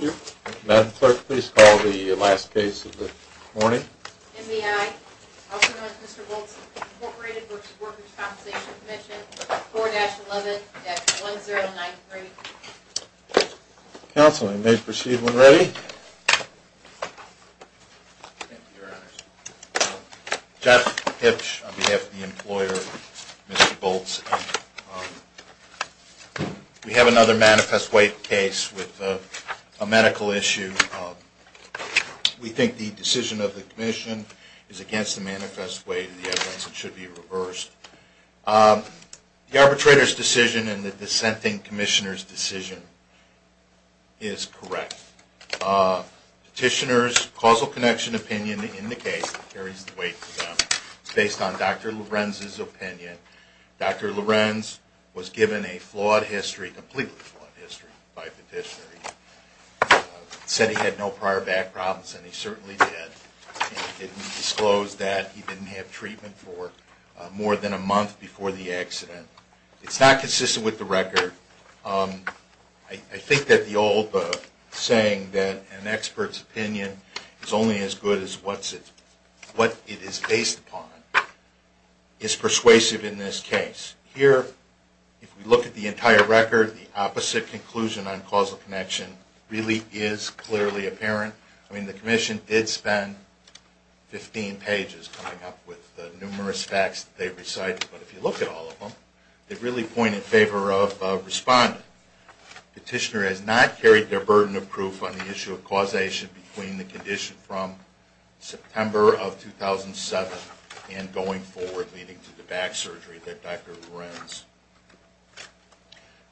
4-11-1093. Counsel, you may proceed when ready. Thank you, Your Honors. Jeff Hipsch, on behalf of the employer, Mr. Bult's, Inc. We have another manifest weight case with a medical issue. We think the decision of the Commission is against the manifest weight of the evidence. It should be reversed. The arbitrator's decision and the dissenting Commissioner's decision is correct. Petitioner's causal connection opinion in the case carries the weight for them. It's based on Dr. Lorenz's opinion. Dr. Lorenz was given a flawed history, completely flawed history, by the petitioner. He said he had no prior back problems, and he certainly did. He didn't disclose that. He didn't have treatment for more than a month before the accident. It's not consistent with the record. I think that the old saying that an expert's opinion is only as good as what it is based upon, is persuasive in this case. Here, if we look at the entire record, the opposite conclusion on causal connection really is clearly apparent. I mean, the Commission did spend 15 pages coming up with the numerous facts that they've recited, but if you look at all of them, they really point in favor of responding. Petitioner has not carried their burden of proof on the issue of causation between the condition from September of 2007 and going forward leading to the back surgery that Dr. Lorenz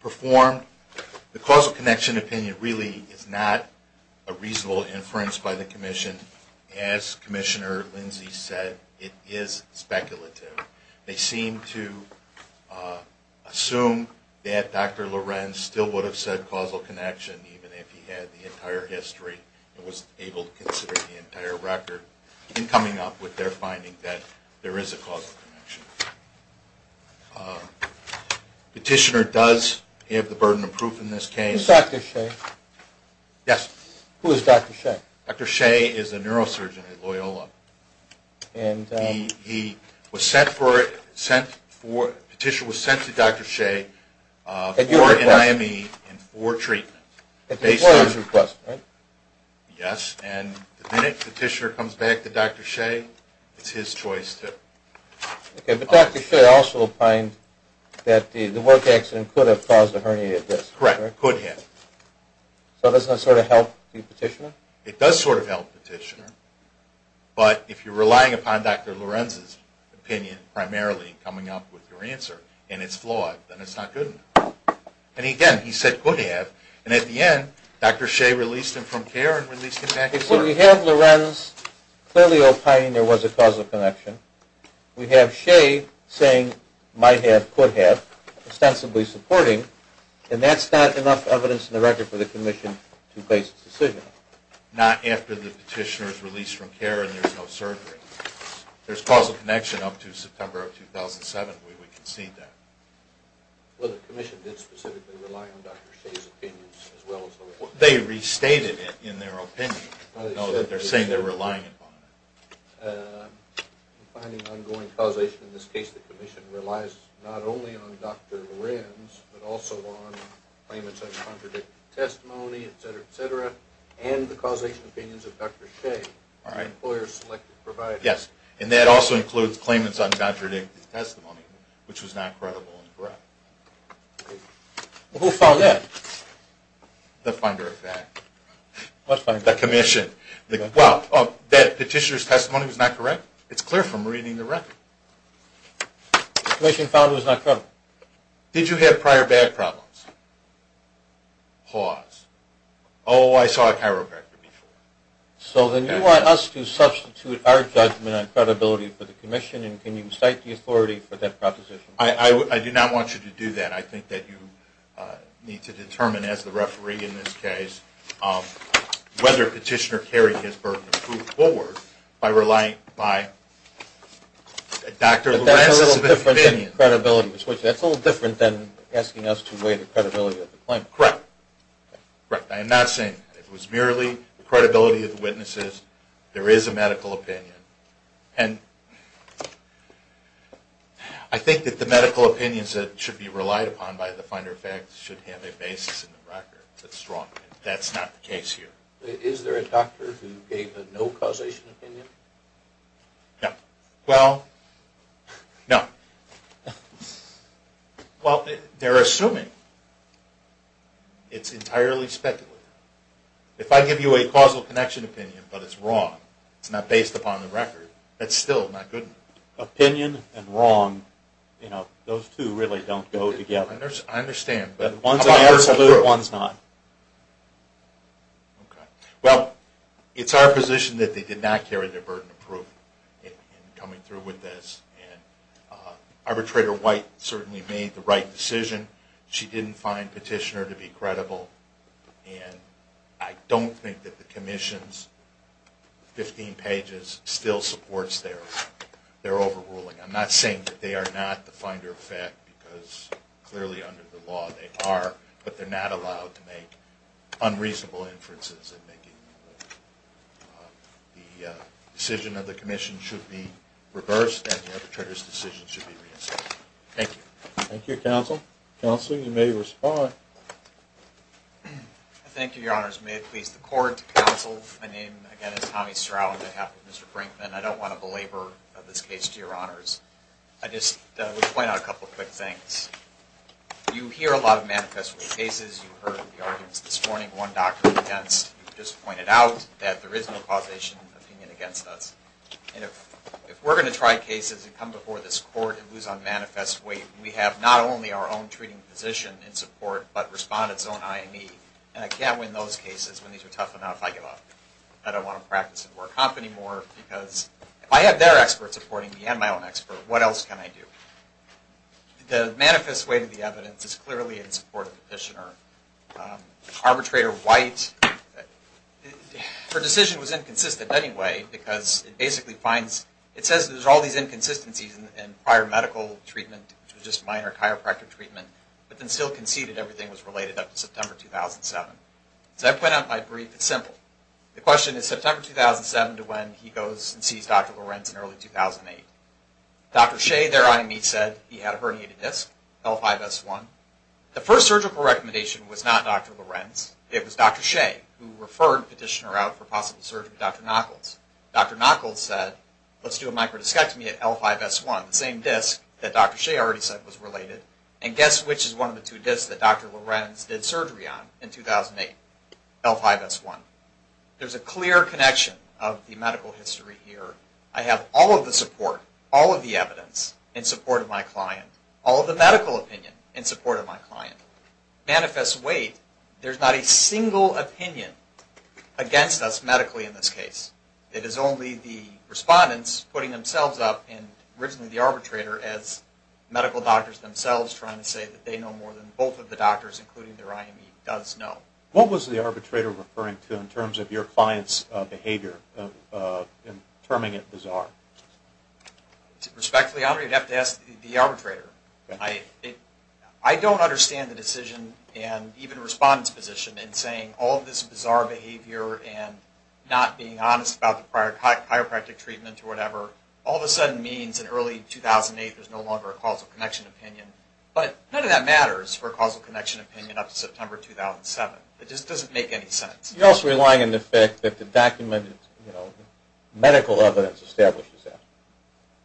performed. The causal connection opinion really is not a reasonable inference by the Commission. As Commissioner Lindsey said, it is speculative. They seem to assume that Dr. Lorenz still would have said causal connection even if he had the entire history and was able to consider the entire record in coming up with their finding that there is a causal connection. Petitioner does have the burden of proof in this case. Who is Dr. Shea? Dr. Shea is a neurosurgeon at Loyola. Petitioner was sent to Dr. Shea for an IME and for treatment. Yes, and the minute Petitioner comes back to Dr. Shea, it's his choice to... Okay, but Dr. Shea also opined that the work accident could have caused a herniated disc. Correct, could have. So does that sort of help the Petitioner? It does sort of help Petitioner, but if you're relying upon Dr. Lorenz's opinion primarily coming up with your answer and it's flawed, then it's not good enough. And again, he said could have, and at the end, Dr. Shea released him from care and released him back to work. So we have Lorenz clearly opining there was a causal connection. We have Shea saying might have, could have, ostensibly supporting, and that's not enough evidence in the record for the Commission to place a decision. Not after the Petitioner is released from care and there's no surgery. There's causal connection up to September of 2007 where we concede that. Well, the Commission did specifically rely on Dr. Shea's opinions as well as... They restated it in their opinion. I know that they're saying they're relying upon it. I'm finding ongoing causation in this case. The Commission relies not only on Dr. Lorenz, but also on claimants' uncontradicted testimony, etc., etc., and the causation opinions of Dr. Shea, the employer's selected provider. Yes, and that also includes claimants' uncontradicted testimony, which was not credible and correct. Who found that? The finder of that. What finder? The Commission. Well, that Petitioner's testimony was not correct? It's clear from reading the record. The Commission found it was not credible. Did you have prior bad problems? Pause. Oh, I saw a chiropractor before. So then you want us to substitute our judgment on credibility for the Commission, and can you cite the authority for that proposition? I do not want you to do that. I think that you need to determine, as the referee in this case, whether Petitioner carried his burden of proof forward by relying on Dr. Lorenz's opinion. But that's a little different than asking us to weigh the credibility of the claimant. Correct. Correct. I am not saying it was merely the credibility of the witnesses. There is a medical opinion. And I think that the medical opinions that should be relied upon by the finder of facts should have a basis in the record. That's wrong. That's not the case here. Is there a doctor who gave a no causation opinion? No. Well, no. Well, they're assuming it's entirely speculative. If I give you a causal connection opinion, but it's wrong, it's not based upon the record, that's still not good. Opinion and wrong, you know, those two really don't go together. I understand. But one's an absolute, one's not. Okay. Well, it's our position that they did not carry their burden of proof in coming through with this. And Arbitrator White certainly made the right decision. She didn't find Petitioner to be credible. And I don't think that the Commission's 15 pages still supports their overruling. I'm not saying that they are not the finder of fact, because clearly under the law they are, but they're not allowed to make unreasonable inferences. The decision of the Commission should be reversed, and the arbitrator's decision should be reinstated. Thank you. Thank you, Counsel. Counsel, you may respond. Thank you, Your Honors. May it please the Court. Counsel, my name, again, is Tommy Stroud on behalf of Mr. Brinkman. I don't want to belabor this case, Your Honors. I just would point out a couple of quick things. You hear a lot of manifest cases. You heard the arguments this morning, one doctor against. You just pointed out that there is no causation opinion against us. And if we're going to try cases and come before this Court and lose on manifest weight, we have not only our own treating physician in support, but respondent's own IME. And I can't win those cases when these are tough enough, I give up. I don't want to practice and work off anymore, because if I have their expert supporting me and my own expert, what else can I do? The manifest weight of the evidence is clearly in support of the petitioner. Arbitrator White, her decision was inconsistent anyway, because it basically finds, it says there's all these inconsistencies in prior medical treatment, which was just minor chiropractic treatment, but then still conceded everything was related up to September 2007. So I point out my brief, it's simple. The question is September 2007 to when he goes and sees Dr. Lorenz in early 2008. Dr. Shea, their IME said he had a herniated disc, L5S1. The first surgical recommendation was not Dr. Lorenz, it was Dr. Shea, who referred the petitioner out for possible surgery with Dr. Knokholz. Dr. Knokholz said, let's do a microdiscectomy at L5S1, the same disc that Dr. Shea already said was related. And guess which is one of the two discs that Dr. Lorenz did surgery on in 2008, L5S1. There's a clear connection of the medical history here. I have all of the support, all of the evidence in support of my client, all of the medical opinion in support of my client. Manifest weight, there's not a single opinion against us medically in this case. It is only the respondents putting themselves up, and originally the arbitrator, as medical doctors themselves trying to say that they know more than both of the doctors, including their IME, does know. What was the arbitrator referring to in terms of your client's behavior in terming it bizarre? Respectfully, I'm going to have to ask the arbitrator. I don't understand the decision and even the respondent's position in saying all of this bizarre behavior and not being honest about the chiropractic treatment or whatever, all of a sudden means in early 2008 there's no longer a causal connection opinion. But none of that matters for a causal connection opinion up to September 2007. It just doesn't make any sense. You're also relying on the fact that the documented medical evidence establishes that.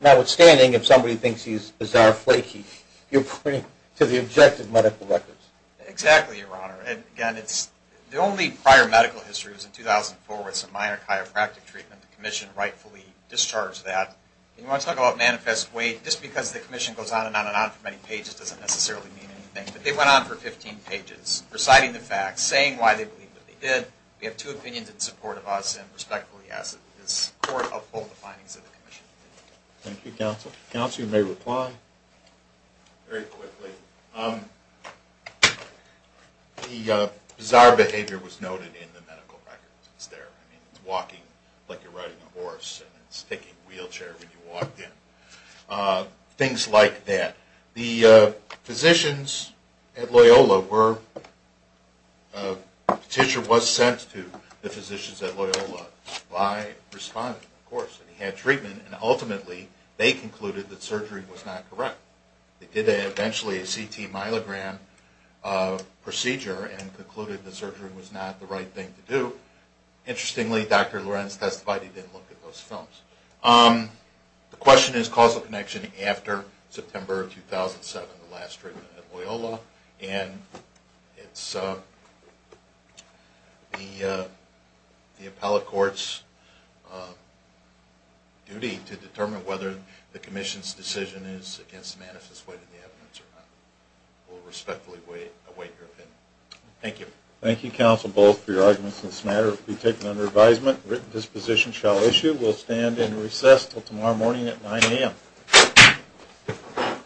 Notwithstanding, if somebody thinks he's bizarre flaky, you're pointing to the objective medical records. Exactly, Your Honor. The only prior medical history was in 2004 with some minor chiropractic treatment. The commission rightfully discharged that. You want to talk about manifest weight, just because the commission goes on and on and on for many pages doesn't necessarily mean anything. But they went on for 15 pages reciting the facts, saying why they believe what they did. We have two opinions in support of us and respectfully ask that the court uphold the findings of the commission. Thank you, counsel. Counsel, you may reply. Very quickly. The bizarre behavior was noted in the medical records. It's there. It's walking like you're riding a horse and it's taking a wheelchair when you walk in. Things like that. The physicians at Loyola were, a petition was sent to the physicians at Loyola by a respondent, of course. He had treatment and ultimately they concluded that surgery was not correct. They did eventually a CT myelogram procedure and concluded that surgery was not the right thing to do. Interestingly, Dr. Lorenz testified he didn't look at those films. The question is causal connection after September 2007, the last treatment at Loyola. And it's the appellate court's duty to determine whether the commission's decision is against manifest weight in the evidence or not. We'll respectfully await your opinion. Thank you. Thank you, counsel, both for your arguments on this matter. It will be taken under advisement. This position shall issue. We'll stand and recess until tomorrow morning at 9 a.m.